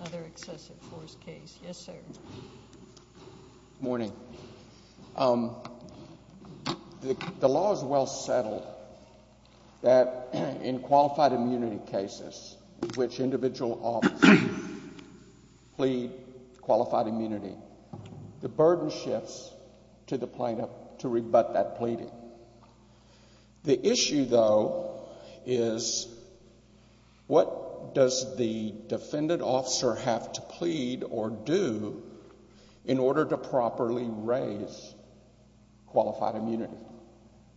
Another excessive force case. Yes, sir. Morning. Um, the law is well settled that in qualified immunity cases in which individual officers plead qualified immunity, the burden shifts to the plaintiff to rebut that pleading. The issue, though, is what does the defendant officer have to plead or do in order to properly raise qualified immunity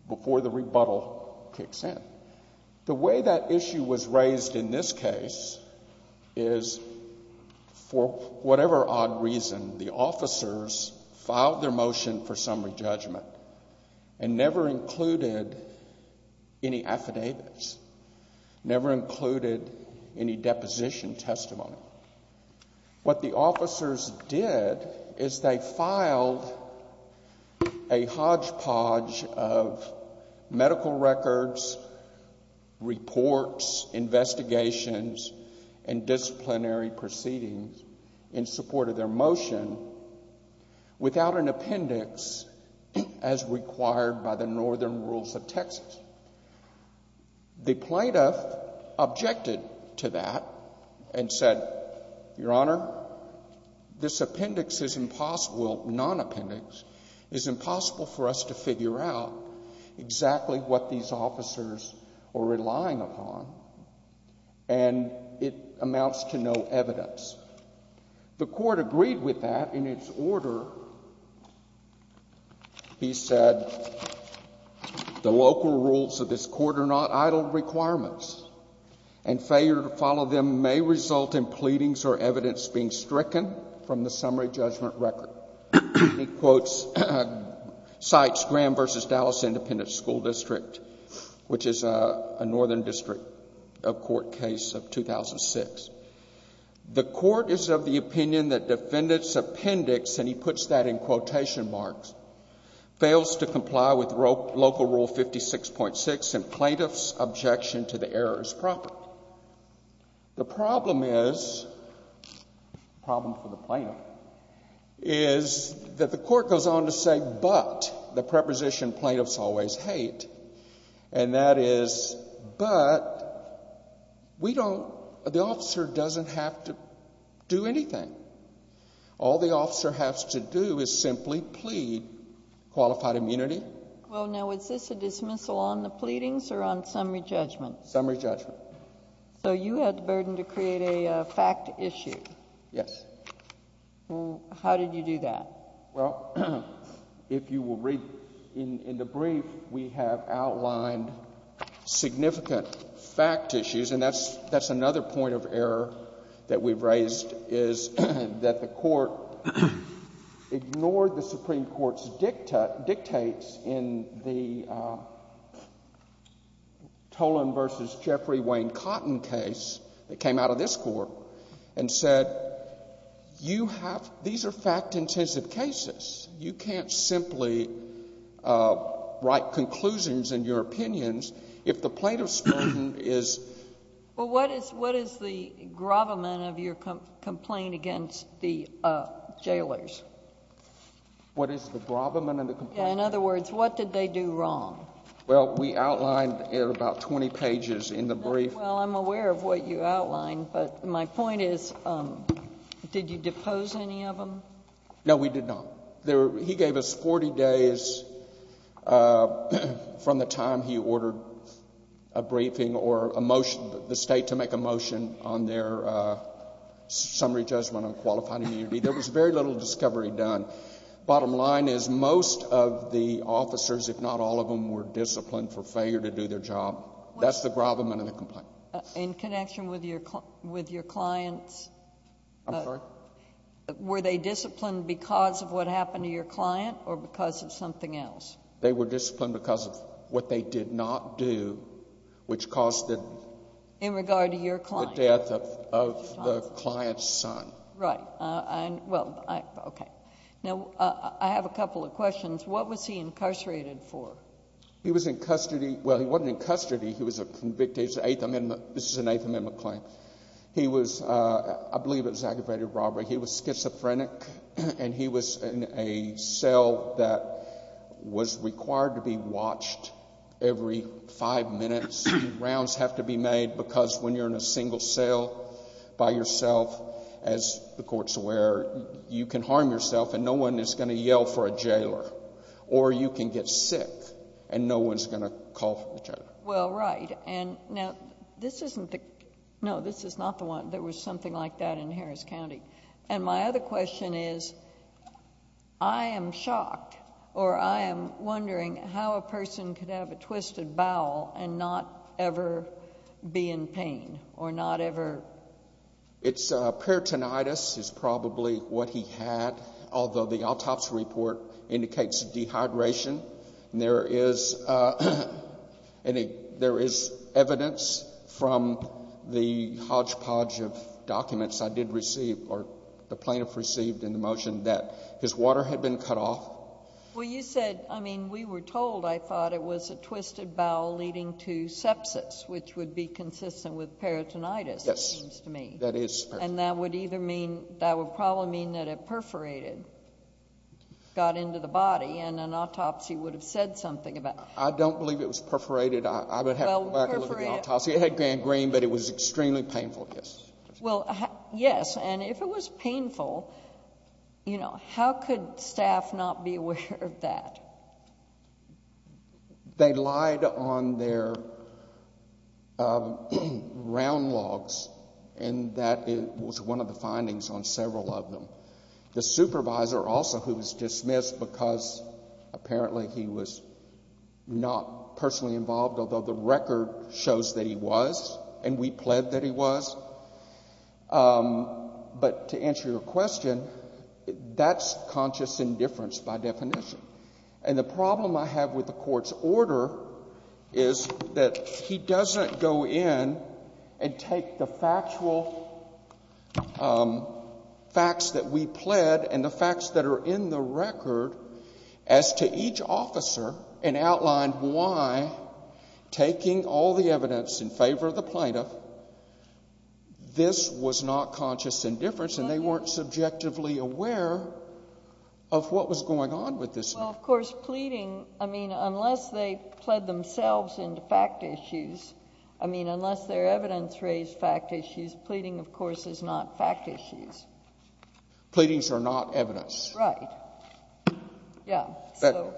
before the rebuttal kicks in? The way that issue was raised in this case is for whatever odd reason, the officers filed their motion for summary judgment and never included any affidavits, never included any deposition testimony. What the officers did is they filed a hodgepodge of medical records, reports, investigations, and disciplinary proceedings in support of their motion without an appendix as required by the northern rules of Texas. The plaintiff objected to that and said, Your Honor, this appendix is impossible, non-appendix, is impossible for us to figure out exactly what these officers were relying upon, and it amounts to no evidence. The Court agreed with that in its order. He said the local rules of this Court are not idle requirements, and failure to follow them may result in pleadings or evidence being stricken from the summary judgment record. He quotes, cites Graham v. Dallas Independent School District, which defendant's appendix, and he puts that in quotation marks, fails to comply with local rule 56.6 and plaintiff's objection to the error is proper. The problem is, the problem for the plaintiff, is that the Court goes on to say but, the preposition plaintiffs always hate, and that is, but, we don't, the officer doesn't have to do anything. All the officer has to do is simply plead qualified immunity. Well, now, is this a dismissal on the pleadings or on summary judgment? Summary judgment. So you had the burden to create a fact issue. Yes. How did you do that? Well, if you will read in the brief, we have outlined significant fact issues, and that's another point of error that we've raised, is that the Court ignored the Supreme Court's dictates in the Tolan v. Jeffrey Wayne Cotton case that came out of this Court, and said, you have, these are fact-intensive cases. You can't simply write conclusions in your opinions if the plaintiff's claim is... Well, what is, what is the gravamen of your complaint against the jailers? What is the gravamen of the complaint? Yeah, in other words, what did they do wrong? Well, we outlined in about 20 pages in the brief... Did you depose any of them? No, we did not. He gave us 40 days from the time he ordered a briefing or a motion, the State to make a motion on their summary judgment on qualified immunity. There was very little discovery done. Bottom line is, most of the officers, if not all of them, were disciplined for failure to do their job. That's the gravamen of the complaint. In connection with your client's... I'm sorry? Were they disciplined because of what happened to your client, or because of something else? They were disciplined because of what they did not do, which caused the... In regard to your client. The death of the client's son. Right. Well, okay. Now, I have a couple of questions. What was he incarcerated for? He was in custody. Well, he wasn't in custody. He was a convicted... This is an Eighth Amendment claim. I believe it was aggravated robbery. He was schizophrenic, and he was in a cell that was required to be watched every five minutes. Rounds have to be made because when you're in a single cell by yourself, as the court's aware, you can harm yourself and no one is going to yell for a jailer, or you can get sick and no one's going to call for a jailer. Well, right. Now, this isn't the... No, this is not the one. There was something like that in Harris County. My other question is, I am shocked, or I am wondering how a person could have a twisted bowel and not ever be in pain, or not ever... It's peritonitis is probably what he had, although the autopsy report indicates dehydration. There is evidence from the hodgepodge of documents I did receive, or the plaintiff received in the motion, that his water had been cut off. Well, you said... I mean, we were told, I thought it was a twisted bowel leading to sepsis, which would be consistent with peritonitis, it seems to me. And that would probably mean that it perforated, got into the body, and an autopsy would have said something about... I don't believe it was perforated. I would have to go back and look at the autopsy. It had gone green, but it was extremely painful, yes. Well, yes, and if it was painful, you know, how could staff not be aware of that? Well, they lied on their round logs, and that was one of the findings on several of them. The supervisor also, who was dismissed because apparently he was not personally involved, although the record shows that he was, and we pled that he was. But to answer your question, that's conscious indifference by definition. And the problem I have with the Court's order is that he doesn't go in and take the factual facts that we pled and the facts that are in the record as to each officer and outline why, taking all the evidence in favor of the plaintiff, this was not conscious indifference and they weren't subjectively aware of what was going on with this man. Well, of course, pleading, I mean, unless they pled themselves into fact issues, I mean, unless their evidence raised fact issues, pleading, of course, is not fact issues. Pleadings are not evidence. Right. Yeah.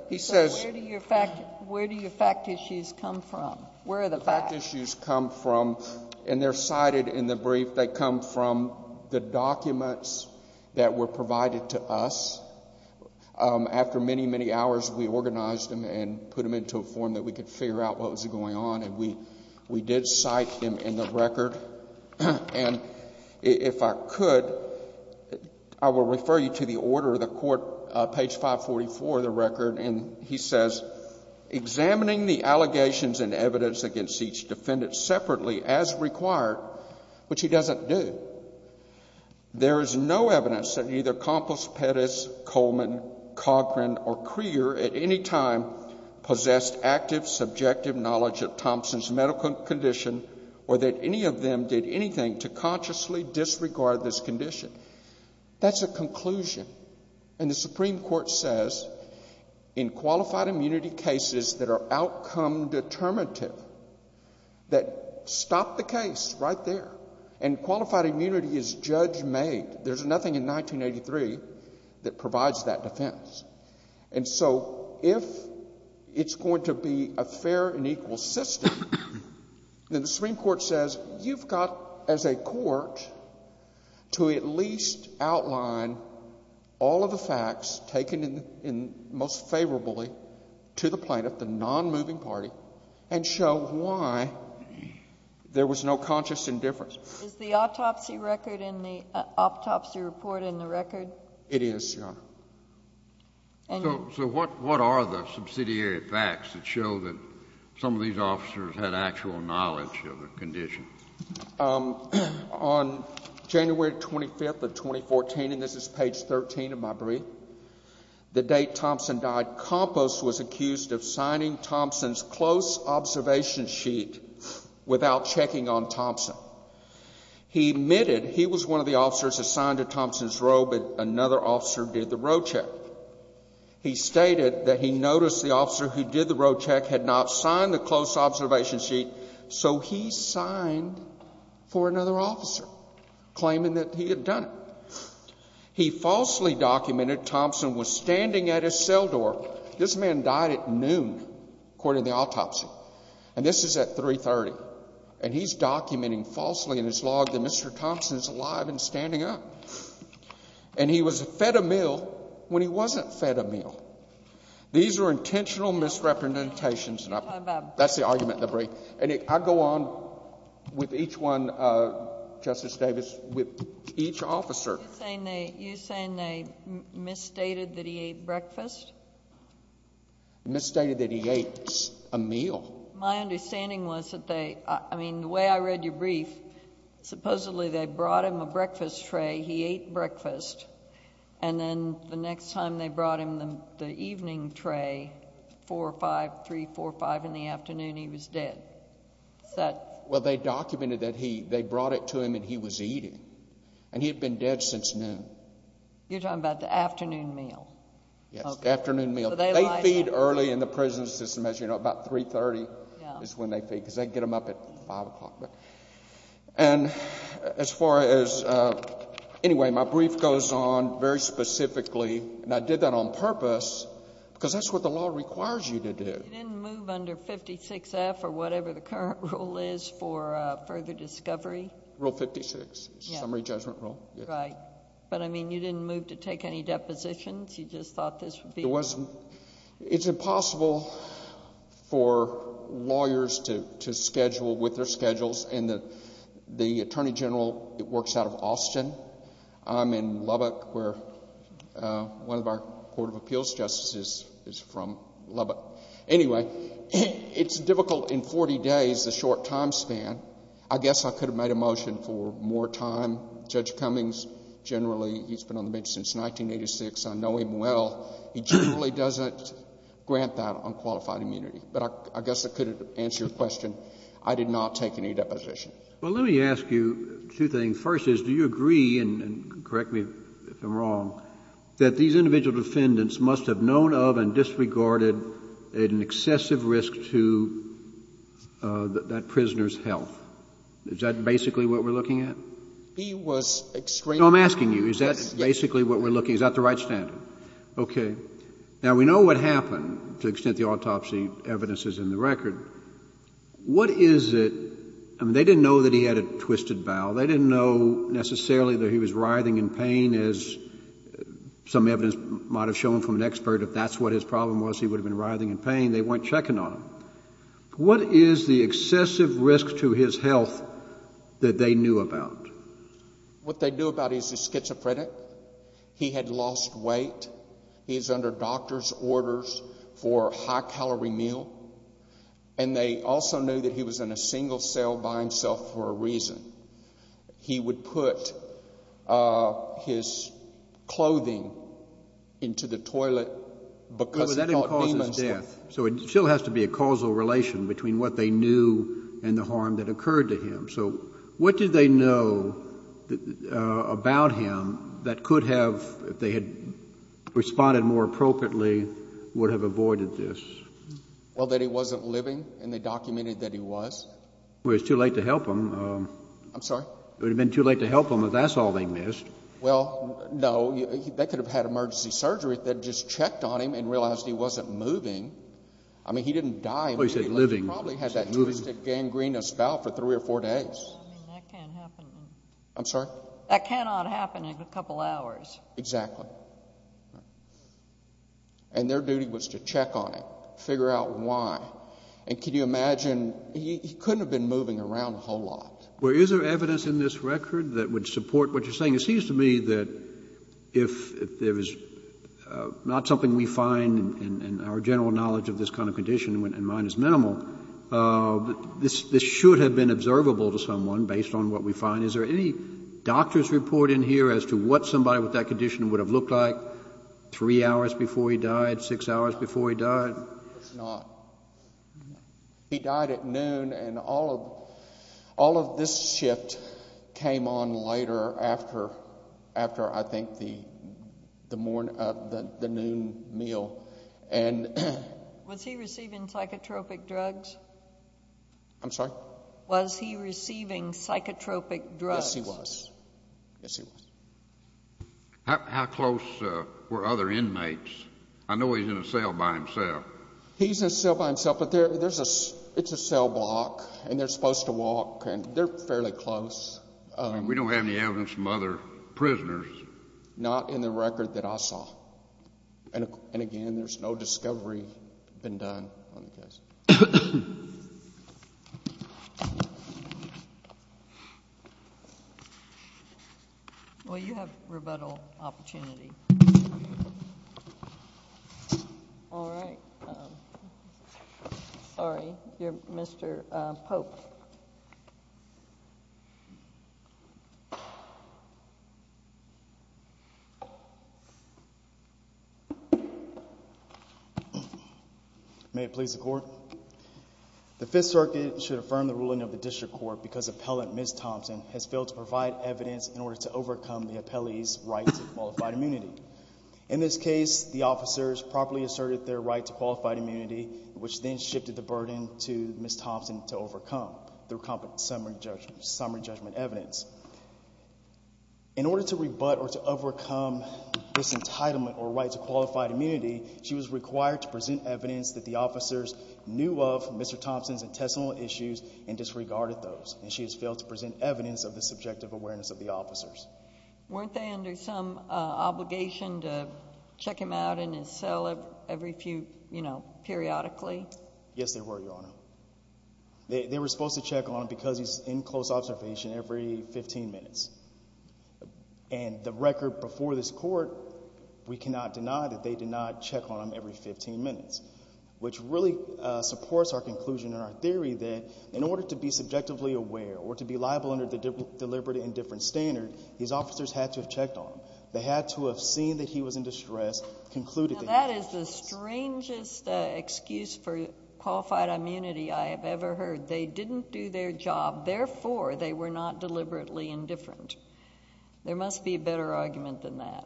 He says... Where do your fact issues come from? Where are the facts? Fact issues come from, and they're cited in the brief, they come from the documents that were provided to us. After many, many hours, we organized them and put them into a form that we could figure out what was going on, and we did cite them in the record. And if I could, I will refer you to the order of the Court, page 544 of the record, and he says... Examining the allegations and evidence against each defendant separately, as required, which he doesn't do, there is no evidence that either Compos Pettis, Coleman, Cochran, or Crear at any time possessed active subjective knowledge of Thompson's medical condition or that any of them did anything to consciously disregard this condition. That's a conclusion. And the Supreme Court says, in qualified immunity cases that are outcome determinative, that stop the case right there, and qualified immunity is judge-made. There's nothing in 1983 that provides that defense. And so, if it's going to be a fair and equal system, then the Supreme Court says, you've got as a court to at least outline all of the facts taken in most favorably to the plaintiff, the nonmoving party, and show why there was no conscious indifference. Is the autopsy record in the autopsy report in the record? It is, Your Honor. So what are the subsidiary facts that show that some of these officers had actual knowledge of the condition? On January 25th of 2014, and this is page 13 of my brief, the date Thompson died, Compos was accused of signing Thompson's close observation sheet without checking on Thompson. He admitted he was one of the officers assigned to Thompson's row, but another officer did the row check. He stated that he noticed the officer who did the row check had not signed the close observation sheet, so he signed for another officer, claiming that he had done it. He falsely documented Thompson was standing at his cell door. This man died at noon, according to the autopsy. And this is at 3.30. And he's documenting falsely in his log that Mr. Thompson is alive and standing up. And he was fed a meal when he wasn't fed a meal. These are intentional misrepresentations. That's the argument in the brief. And I go on with each one, Justice Davis, with each officer. You're saying they misstated that he ate breakfast? They misstated that he ate a meal. My understanding was that they... I mean, the way I read your brief, supposedly they brought him a breakfast tray, he ate breakfast, and then the next time they brought him the Well, they documented that they brought it to him and he was eating. And he had been dead since noon. You're talking about the afternoon meal? Yes, the afternoon meal. They feed early in the prison system, as you know, about 3.30 is when they feed, because they get them up at 5 o'clock. And as far as... anyway, my brief goes on very specifically, and I did that on purpose because that's what the law requires you to do. You didn't move under 56F or whatever the current rule is for further discovery? Rule 56, summary judgment rule. Right. But, I mean, you didn't move to take any depositions? You just thought this would be... It's impossible for lawyers to schedule with their schedules. And the Attorney General works out of Austin. I'm in Lubbock where one of our Court of Appeals Justices is from Lubbock. Anyway, it's difficult in 40 days, the short time span. I guess I could have made a motion for more time. Judge Cummings, generally, he's been on the bench since 1986. I know him well. He generally doesn't grant that on qualified immunity. But I guess I could answer your question. I did not take any depositions. Well, let me ask you two things. First is, do you agree, and correct me if I'm wrong, that these individual defendants must have known of and disregarded an excessive risk to that prisoner's health? Is that basically what we're looking at? He was extremely... No, I'm asking you. Is that basically what we're looking... Yes. Is that the right standard? Okay. Now, we know what happened, to the extent the autopsy evidence is in the record. What is it... I mean, they didn't know that he had a twisted bowel. They didn't know necessarily that he was writhing in pain, as some evidence might have shown from an expert. If that's what his problem was, he would have been writhing in pain. They weren't checking on him. What is the excessive risk to his health that they knew about? What they knew about is he's schizophrenic. He had lost weight. He's under doctor's orders for a high-calorie meal. And they also knew that he was in a single cell by himself for a reason. He would put his clothing into the toilet because he thought demons... But that imposes death, so it still has to be a causal relation between what they knew and the harm that occurred to him. So what did they know about him that could have, if they had responded more appropriately, would have avoided this? Well, that he wasn't living, and they documented that he was. Well, it's too late to help him. I'm sorry? It would have been too late to help him if that's all they missed. Well, no. They could have had emergency surgery that just checked on him and realized he wasn't moving. I mean, he didn't die. Well, he said living. He probably had that twisted gangrenous bowel for three or four days. I mean, that can't happen. I'm sorry? That cannot happen in a couple hours. Exactly. And their duty was to check on him, figure out why. And can you imagine, he couldn't have been moving around a whole lot. Well, is there evidence in this record that would support what you're saying? It seems to me that if there is not something we find in our general knowledge of this kind of condition, and mine is minimal, this should have been observable to someone based on what we find. Is there any doctor's report in here as to what somebody with that condition would have looked like three hours before he died, six hours before he died? It's not. He died at noon, and all of this shift came on later after, I think, the noon meal. Was he receiving psychotropic drugs? I'm sorry? Was he receiving psychotropic drugs? Yes, he was. Yes, he was. How close were other inmates? I know he's in a cell by himself. He's in a cell by himself, but it's a cell block, and they're supposed to walk, and they're fairly close. We don't have any evidence from other prisoners. Not in the record that I saw. And again, there's no discovery been done on the case. Thank you. Well, you have rebuttal opportunity. All right. Sorry. You're Mr. Pope. May it please the Court? The Fifth Circuit should affirm the ruling of the District Court because Appellant Ms. Thompson has failed to provide evidence in order to overcome the appellee's right to qualified immunity. In this case, the officers properly asserted their right to qualified immunity, which then shifted the burden to Ms. Thompson to overcome through summary judgment evidence. In order to rebut or to overcome this entitlement or right to qualified immunity, she was required to present evidence that the officers knew of Mr. Thompson's intestinal issues and disregarded those, and she has failed to present evidence of the subjective awareness of the officers. Weren't they under some obligation to check him out in his cell every few, you know, periodically? Yes, they were, Your Honor. They were supposed to check on him because he's in close observation every 15 minutes. And the record before this Court, we cannot deny that they did not check on him every 15 minutes, which really supports our conclusion and our theory that in order to be subjectively aware or to be liable under the deliberate indifference standard, these officers had to have checked on him. They had to have seen that he was in distress, concluded that he was in distress. Now, that is the strangest excuse for qualified immunity I have ever heard. They didn't do their job. Therefore, they were not deliberately indifferent. There must be a better argument than that.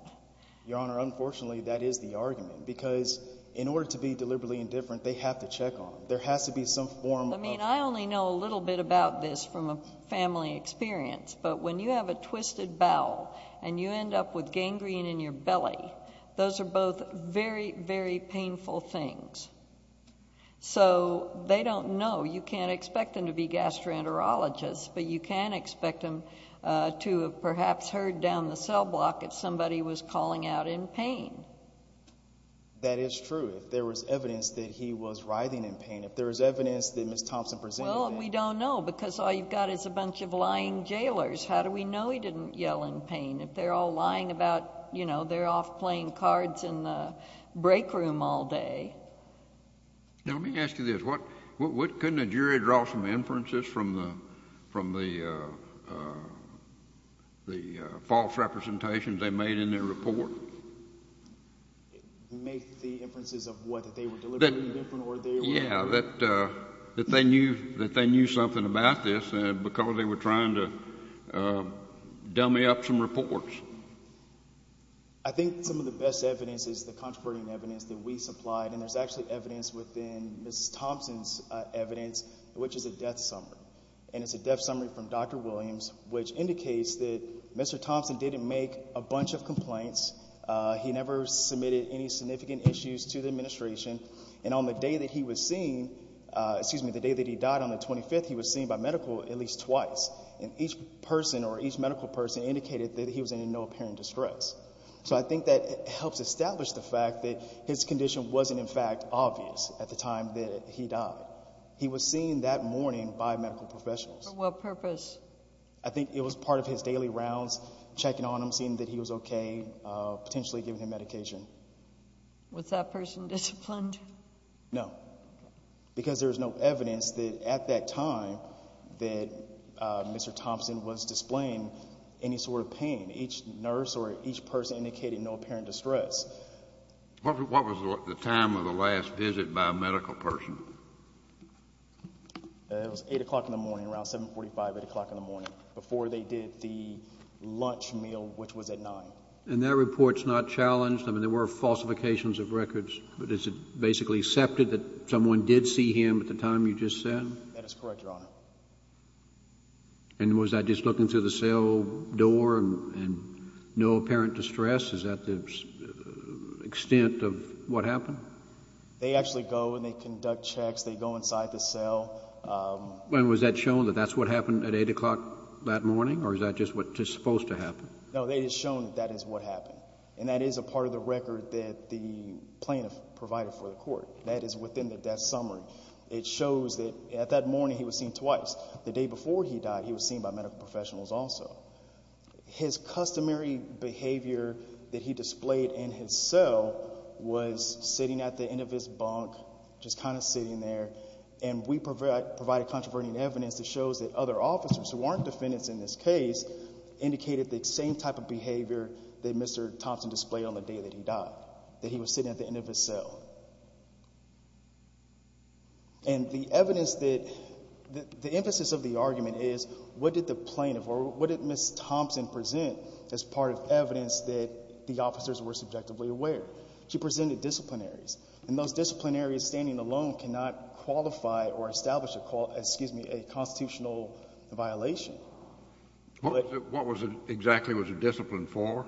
Your Honor, unfortunately, that is the argument, because in order to be deliberately indifferent, they have to check on him. There has to be some form of... Well, I mean, I only know a little bit about this from a family experience. But when you have a twisted bowel and you end up with gangrene in your belly, those are both very, very painful things. So, they don't know. You can't expect them to be gastroenterologists, but you can expect them to have perhaps heard down the cell block that somebody was calling out in pain. That is true. If there was evidence that he was writhing in pain. If there was evidence that Ms. Thompson presented that... Well, we don't know, because all you've got is a bunch of lying jailers. How do we know he didn't yell in pain? If they're all lying about, you know, they're off playing cards in the break room all day. Now, let me ask you this. Couldn't a jury draw some inferences from the false representations they made in their report? Make the inferences of what? That they were deliberately different, or they were... Yeah, that they knew something about this, because they were trying to dummy up some reports. I think some of the best evidence is the contributing evidence that we supplied. And there's actually evidence within Ms. Thompson's evidence, which is a death summary. And it's a death summary from Dr. Williams, which indicates that Mr. Thompson didn't make a bunch of complaints. He never submitted any significant issues to the administration. And on the day that he was seen... Excuse me, the day that he died, on the 25th, he was seen by medical at least twice. And each person, or each medical person, indicated that he was in no apparent distress. So I think that helps establish the fact that his condition wasn't, in fact, obvious at the time that he died. He was seen that morning by medical professionals. For what purpose? I think it was part of his daily rounds, checking on him, seeing that he was okay, potentially giving him medication. Was that person disciplined? No. Because there's no evidence that at that time that Mr. Thompson was displaying any sort of pain. Each nurse or each person indicated no apparent distress. What was the time of the last visit by a medical person? It was 8 o'clock in the morning, around 7.45, 8 o'clock in the morning, before they did the lunch meal, which was at 9. And that report's not challenged? I mean, there were falsifications of records. But is it basically accepted that someone did see him at the time you just said? That is correct, Your Honor. And was that just looking through the cell door and no apparent distress? Is that the extent of what happened? They actually go and they conduct checks. They go inside the cell. And was that shown that that's what happened at 8 o'clock that morning? Or is that just what's supposed to happen? No, they had shown that that is what happened. And that is a part of the record that the plaintiff provided for the court. That is within the death summary. It shows that at that morning he was seen twice. The day before he died, he was seen by medical professionals also. His customary behavior that he displayed in his cell was sitting at the end of his bunk, just kind of sitting there. And we provided controversial evidence that shows that other officers who weren't defendants in this case indicated the same type of behavior that Mr. Thompson displayed on the day that he died. That he was sitting at the end of his cell. And the evidence that, the emphasis of the argument is what did the plaintiff or what did Ms. Thompson present as part of evidence that the officers were subjectively aware? She presented disciplinaries. And those disciplinaries standing alone cannot qualify or establish a call, excuse me, a constitutional violation. What exactly was the discipline for?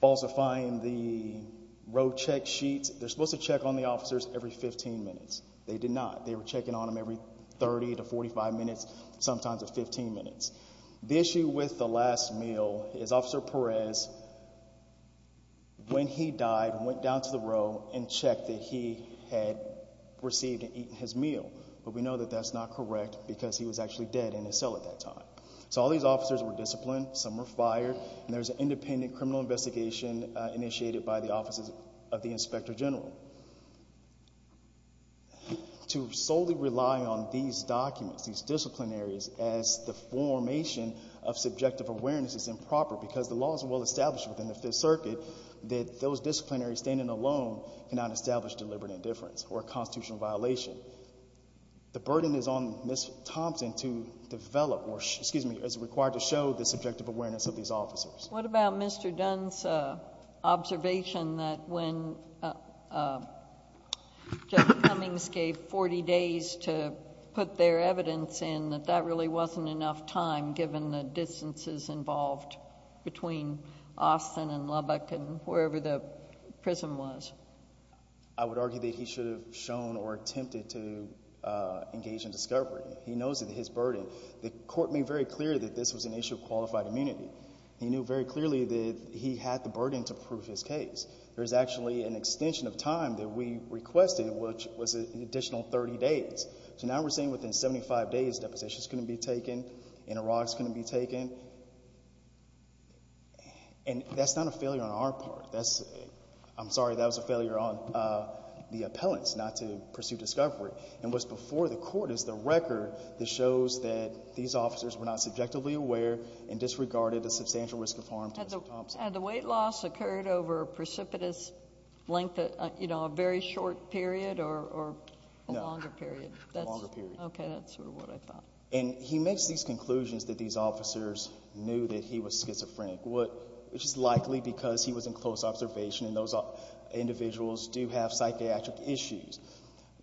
Also find the road check sheets. They're supposed to check on the officers every 15 minutes. They did not. They were checking on them every 30 to 45 minutes, sometimes 15 minutes. The issue with the last meal is Officer Perez, when he died, went down to the row and checked that he had received and eaten his meal. But we know that that's not correct because he was actually dead in his cell at that time. So all these officers were disciplined. Some were fired. And there was an independent criminal investigation initiated by the offices of the Inspector General. To solely rely on these documents, these disciplinaries as the formation of subjective awareness is improper because the law is well established within the Fifth Circuit that those disciplinaries standing alone cannot establish deliberate indifference or a constitutional violation. The burden is on Ms. Thompson to develop, excuse me, is required to show the subjective awareness of these officers. What about Mr. Dunn's observation that when Judge Cummings gave 40 days to put their evidence in, that that really wasn't enough time, given the distances involved between Austin and Lubbock and wherever the prison was? I would argue that he should have shown or attempted to engage in discovery. He knows that his burden. The court made very clear that this was an issue of qualified immunity. He knew very clearly that he had the burden to prove his case. There's actually an extension of time that we requested, which was an additional 30 days. So now we're saying within 75 days, depositions couldn't be taken, interrogations couldn't be taken. And that's not a failure on our part. I'm sorry, that was a failure on the appellants not to pursue discovery. And what's before the court is the record that shows that these officers were not subjectively aware and disregarded the substantial risk of harm to Ms. Thompson. Had the weight loss occurred over a precipitous length, a very short period or a longer period? No, a longer period. Okay, that's sort of what I thought. And he makes these conclusions that these officers knew that he was schizophrenic, which is likely because he was in close observation and those individuals do have psychiatric issues.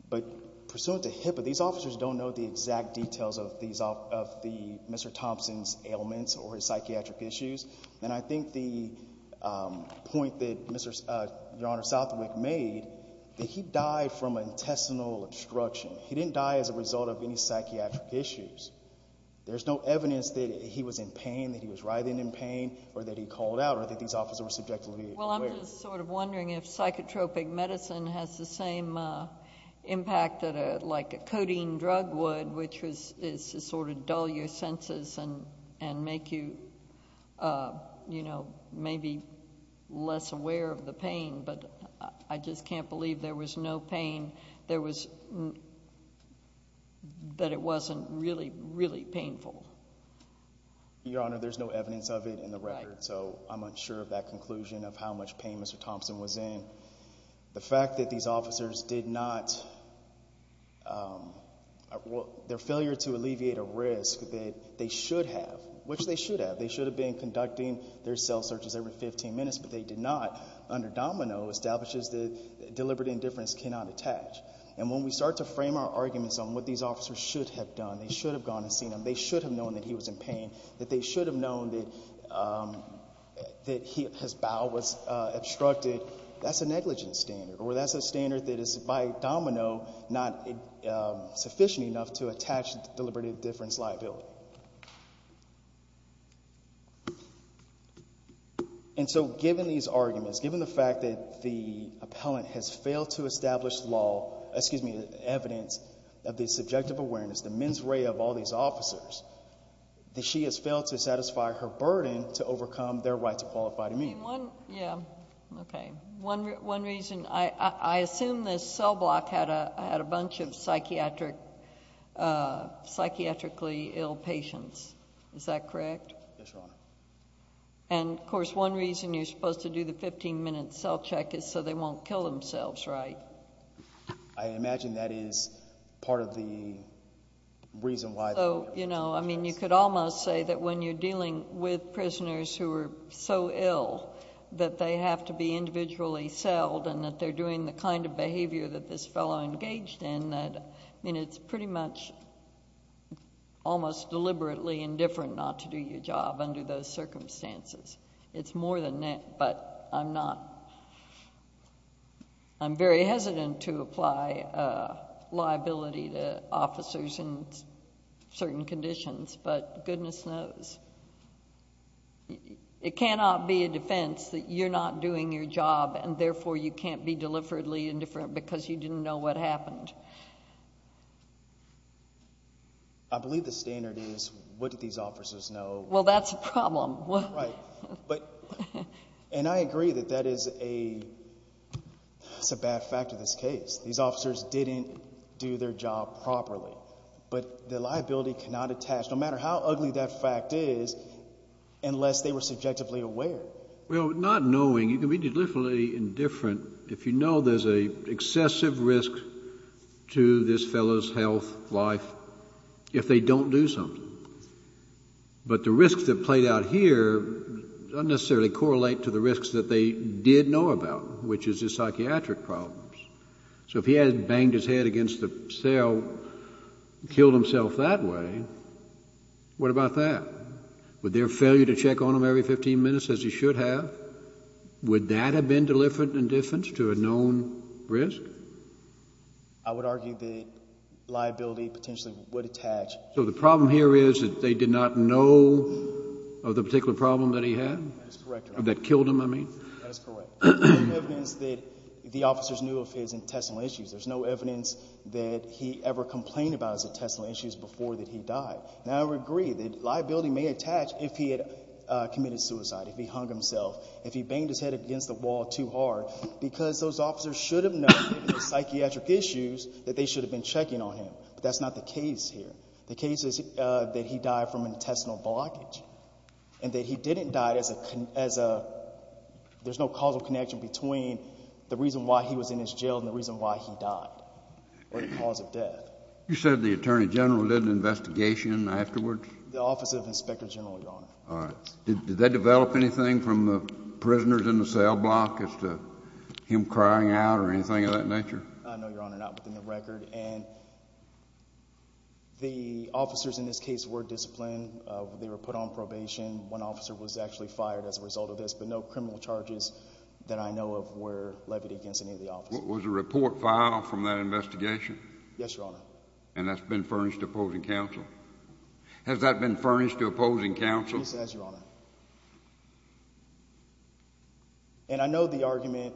But pursuant to HIPAA, these officers don't know the exact details of Mr. Thompson's ailments or his psychiatric issues. And I think the point that Your Honor Southwick made that he died from intestinal obstruction. He didn't die as a result of any psychiatric issues. There's no evidence that he was in pain, that he was writhing in pain or that he called out or that these officers were subjectively aware. Well, I'm just sort of wondering if psychotropic medicine has the same impact that like a codeine drug would, which is to sort of dull your senses and make you maybe less aware of the pain. But I just can't believe there was no pain, that it wasn't really, really painful. Your Honor, there's no evidence of it in the record. So I'm unsure of that conclusion of how much pain Mr. Thompson was in. The fact that these officers did not, their failure to alleviate a risk that they should have, which they should have. They should have been conducting their cell searches every 15 minutes, but they did not, under DOMINO establishes that deliberate indifference cannot attach. And when we start to frame our arguments on what these officers should have done, they should have gone and seen him, they should have known that he was in pain, that they should have known that his bowel was obstructed, that's a negligence standard or that's a standard that is by DOMINO not sufficient enough to attach deliberate indifference liability. And so given these arguments, given the fact that the appellant has failed to establish law, excuse me, evidence of the subjective awareness, the mens rea of all these officers, that she has failed to satisfy her burden to overcome their right to qualify to meet. I mean, one, yeah, okay. One reason, I assume this cell block had a bunch of psychiatrically ill patients. Is that correct? Yes, Your Honor. And of course, one reason you're supposed to do the 15-minute cell check is so they won't kill themselves, right? I imagine that is part of the reason why. So, you know, I mean, you could almost say that when you're dealing with prisoners who are so ill that they have to be individually selled and that they're doing the kind of behavior that this fellow engaged in, I mean, it's pretty much almost deliberately indifferent not to do your job under those circumstances. It's more than that, but I'm not... I'm very hesitant to apply liability to officers in certain conditions, but goodness knows, it cannot be a defense that you're not doing your job and therefore you can't be deliberately indifferent because you didn't know what happened. I believe the standard is, what did these officers know? Well, that's a problem. Right, but... And I agree that that is a bad fact of this case. These officers didn't do their job properly, but the liability cannot attach... No matter how ugly that fact is, unless they were subjectively aware. Well, not knowing... You can be deliberately indifferent if you know there's an excessive risk to this fellow's health, life, if they don't do something. But the risks that played out here don't necessarily correlate to the risks that they did know about, which is his psychiatric problems. So if he had banged his head against the cell and killed himself that way, what about that? Would their failure to check on him every 15 minutes, as he should have, would that have been deliberate indifference to a known risk? I would argue that liability potentially would attach... So the problem here is that they did not know of the particular problem that he had? That is correct, Your Honor. That killed him, I mean? That is correct. There's no evidence that the officers knew of his intestinal issues. There's no evidence that he ever complained about his intestinal issues before that he died. And I would agree that liability may attach if he had committed suicide, if he hung himself, if he banged his head against the wall too hard, because those officers should have known of his psychiatric issues that they should have been checking on him. But that's not the case here. The case is that he died from intestinal blockage and that he didn't die as a... There's no causal connection between the reason why he was in his jail and the reason why he died or the cause of death. You said the Attorney General did an investigation afterwards? The Office of Inspector General, Your Honor. All right. Did they develop anything from the prisoners in the cell block as to him crying out or anything of that nature? I know, Your Honor, not within the record. And the officers in this case were disciplined. They were put on probation. One officer was actually fired as a result of this, but no criminal charges that I know of were levied against any of the officers. Was a report filed from that investigation? Yes, Your Honor. And that's been furnished to opposing counsel? Has that been furnished to opposing counsel? Yes, it has, Your Honor. And I know the argument,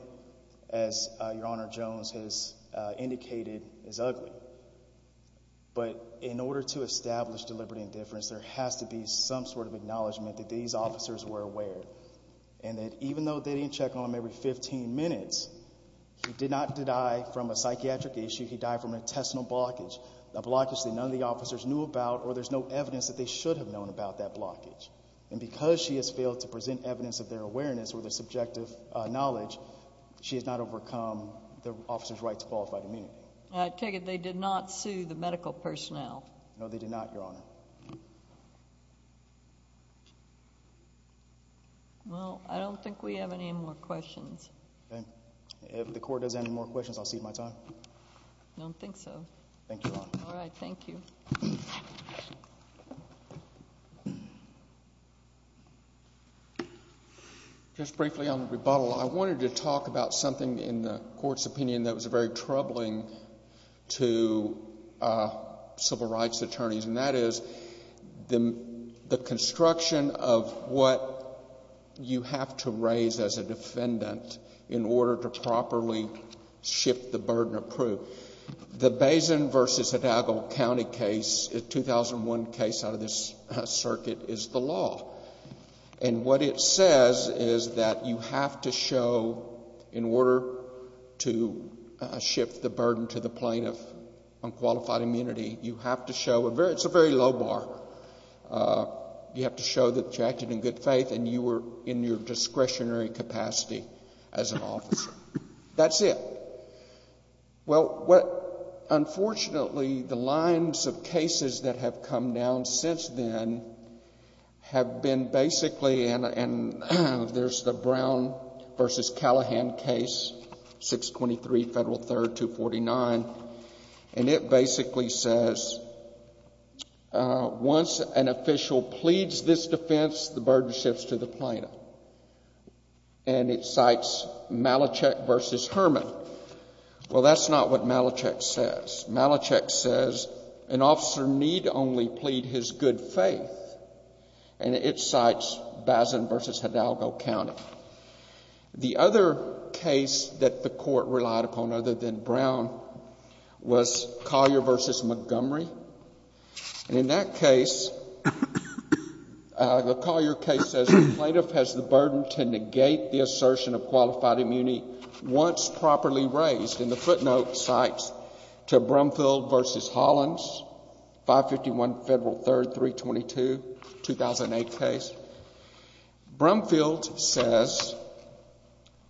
as Your Honor Jones has indicated, is ugly. But in order to establish deliberate indifference, there has to be some sort of acknowledgement that these officers were aware and that even though they didn't check on him every 15 minutes, he did not die from a psychiatric issue. He died from an intestinal blockage, a blockage that none of the officers knew about or there's no evidence that they should have known about that blockage. And because she has failed to present evidence of their awareness or their subjective knowledge, she has not overcome the officer's right to qualify to meet him. I take it they did not sue the medical personnel. No, they did not, Your Honor. Well, I don't think we have any more questions. Okay. If the Court does have any more questions, I'll cede my time. I don't think so. Thank you, Your Honor. All right. Thank you. Just briefly on the rebuttal, I wanted to talk about something in the Court's opinion that was very troubling to civil rights attorneys and that is the construction of what you have to raise as a defendant in order to properly shift the burden of proof. The Bazin v. Hidalgo County case, a 2001 case out of this circuit, is the law. And what it says is that you have to show, in order to shift the burden to the plaintiff on qualified immunity, you have to show, it's a very low bar, you have to show that you acted in good faith and you were in your discretionary capacity as an officer. That's it. Well, unfortunately, the lines of cases that have come down since then have been basically, and there's the Brown v. Callahan case, 623 Federal 3rd, 249, and it basically says, once an official pleads this defense, the burden shifts to the plaintiff. And it cites Malachek v. Herman. Well, that's not what Malachek says. Malachek says an officer need only plead his good faith and it cites Bazin v. Hidalgo County. The other case that the Court relied upon other than Brown was Collier v. Montgomery. And in that case, the Collier case says, the plaintiff has the burden to negate the assertion of qualified immunity once properly raised. And the footnote cites to Brumfield v. Hollins, 551 Federal 3rd, 322, 2008 case. Brumfield says,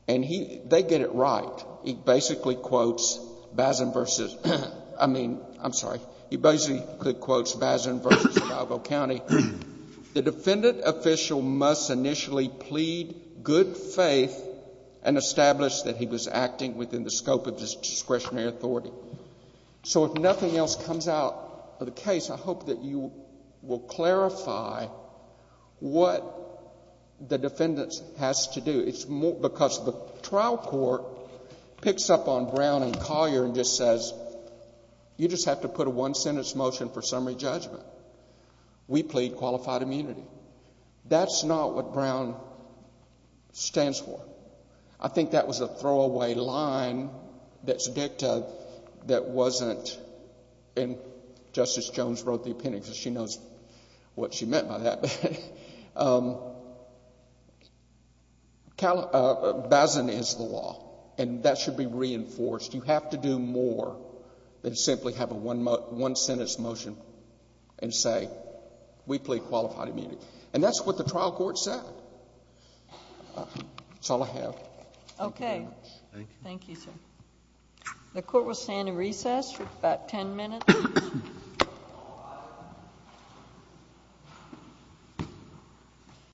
and they get it right, he basically quotes Bazin v.... I mean, I'm sorry. He basically quotes Bazin v. Hidalgo County. The defendant official must initially plead good faith and establish that he was acting within the scope of his discretionary authority. So if nothing else comes out of the case, I hope that you will clarify what the defendant has to do. It's because the trial court picks up on Brown and Collier and just says, you just have to put a one-sentence motion for summary judgment. We plead qualified immunity. That's not what Brown stands for. I think that was a throwaway line that's dicta that wasn't... And Justice Jones wrote the opinion because she knows what she meant by that. Bazin is the law, and that should be reinforced. You have to do more than simply have a one-sentence motion and say, we plead qualified immunity. And that's what the trial court said. That's all I have. Okay. Thank you, sir. The court will stand in recess for about 10 minutes.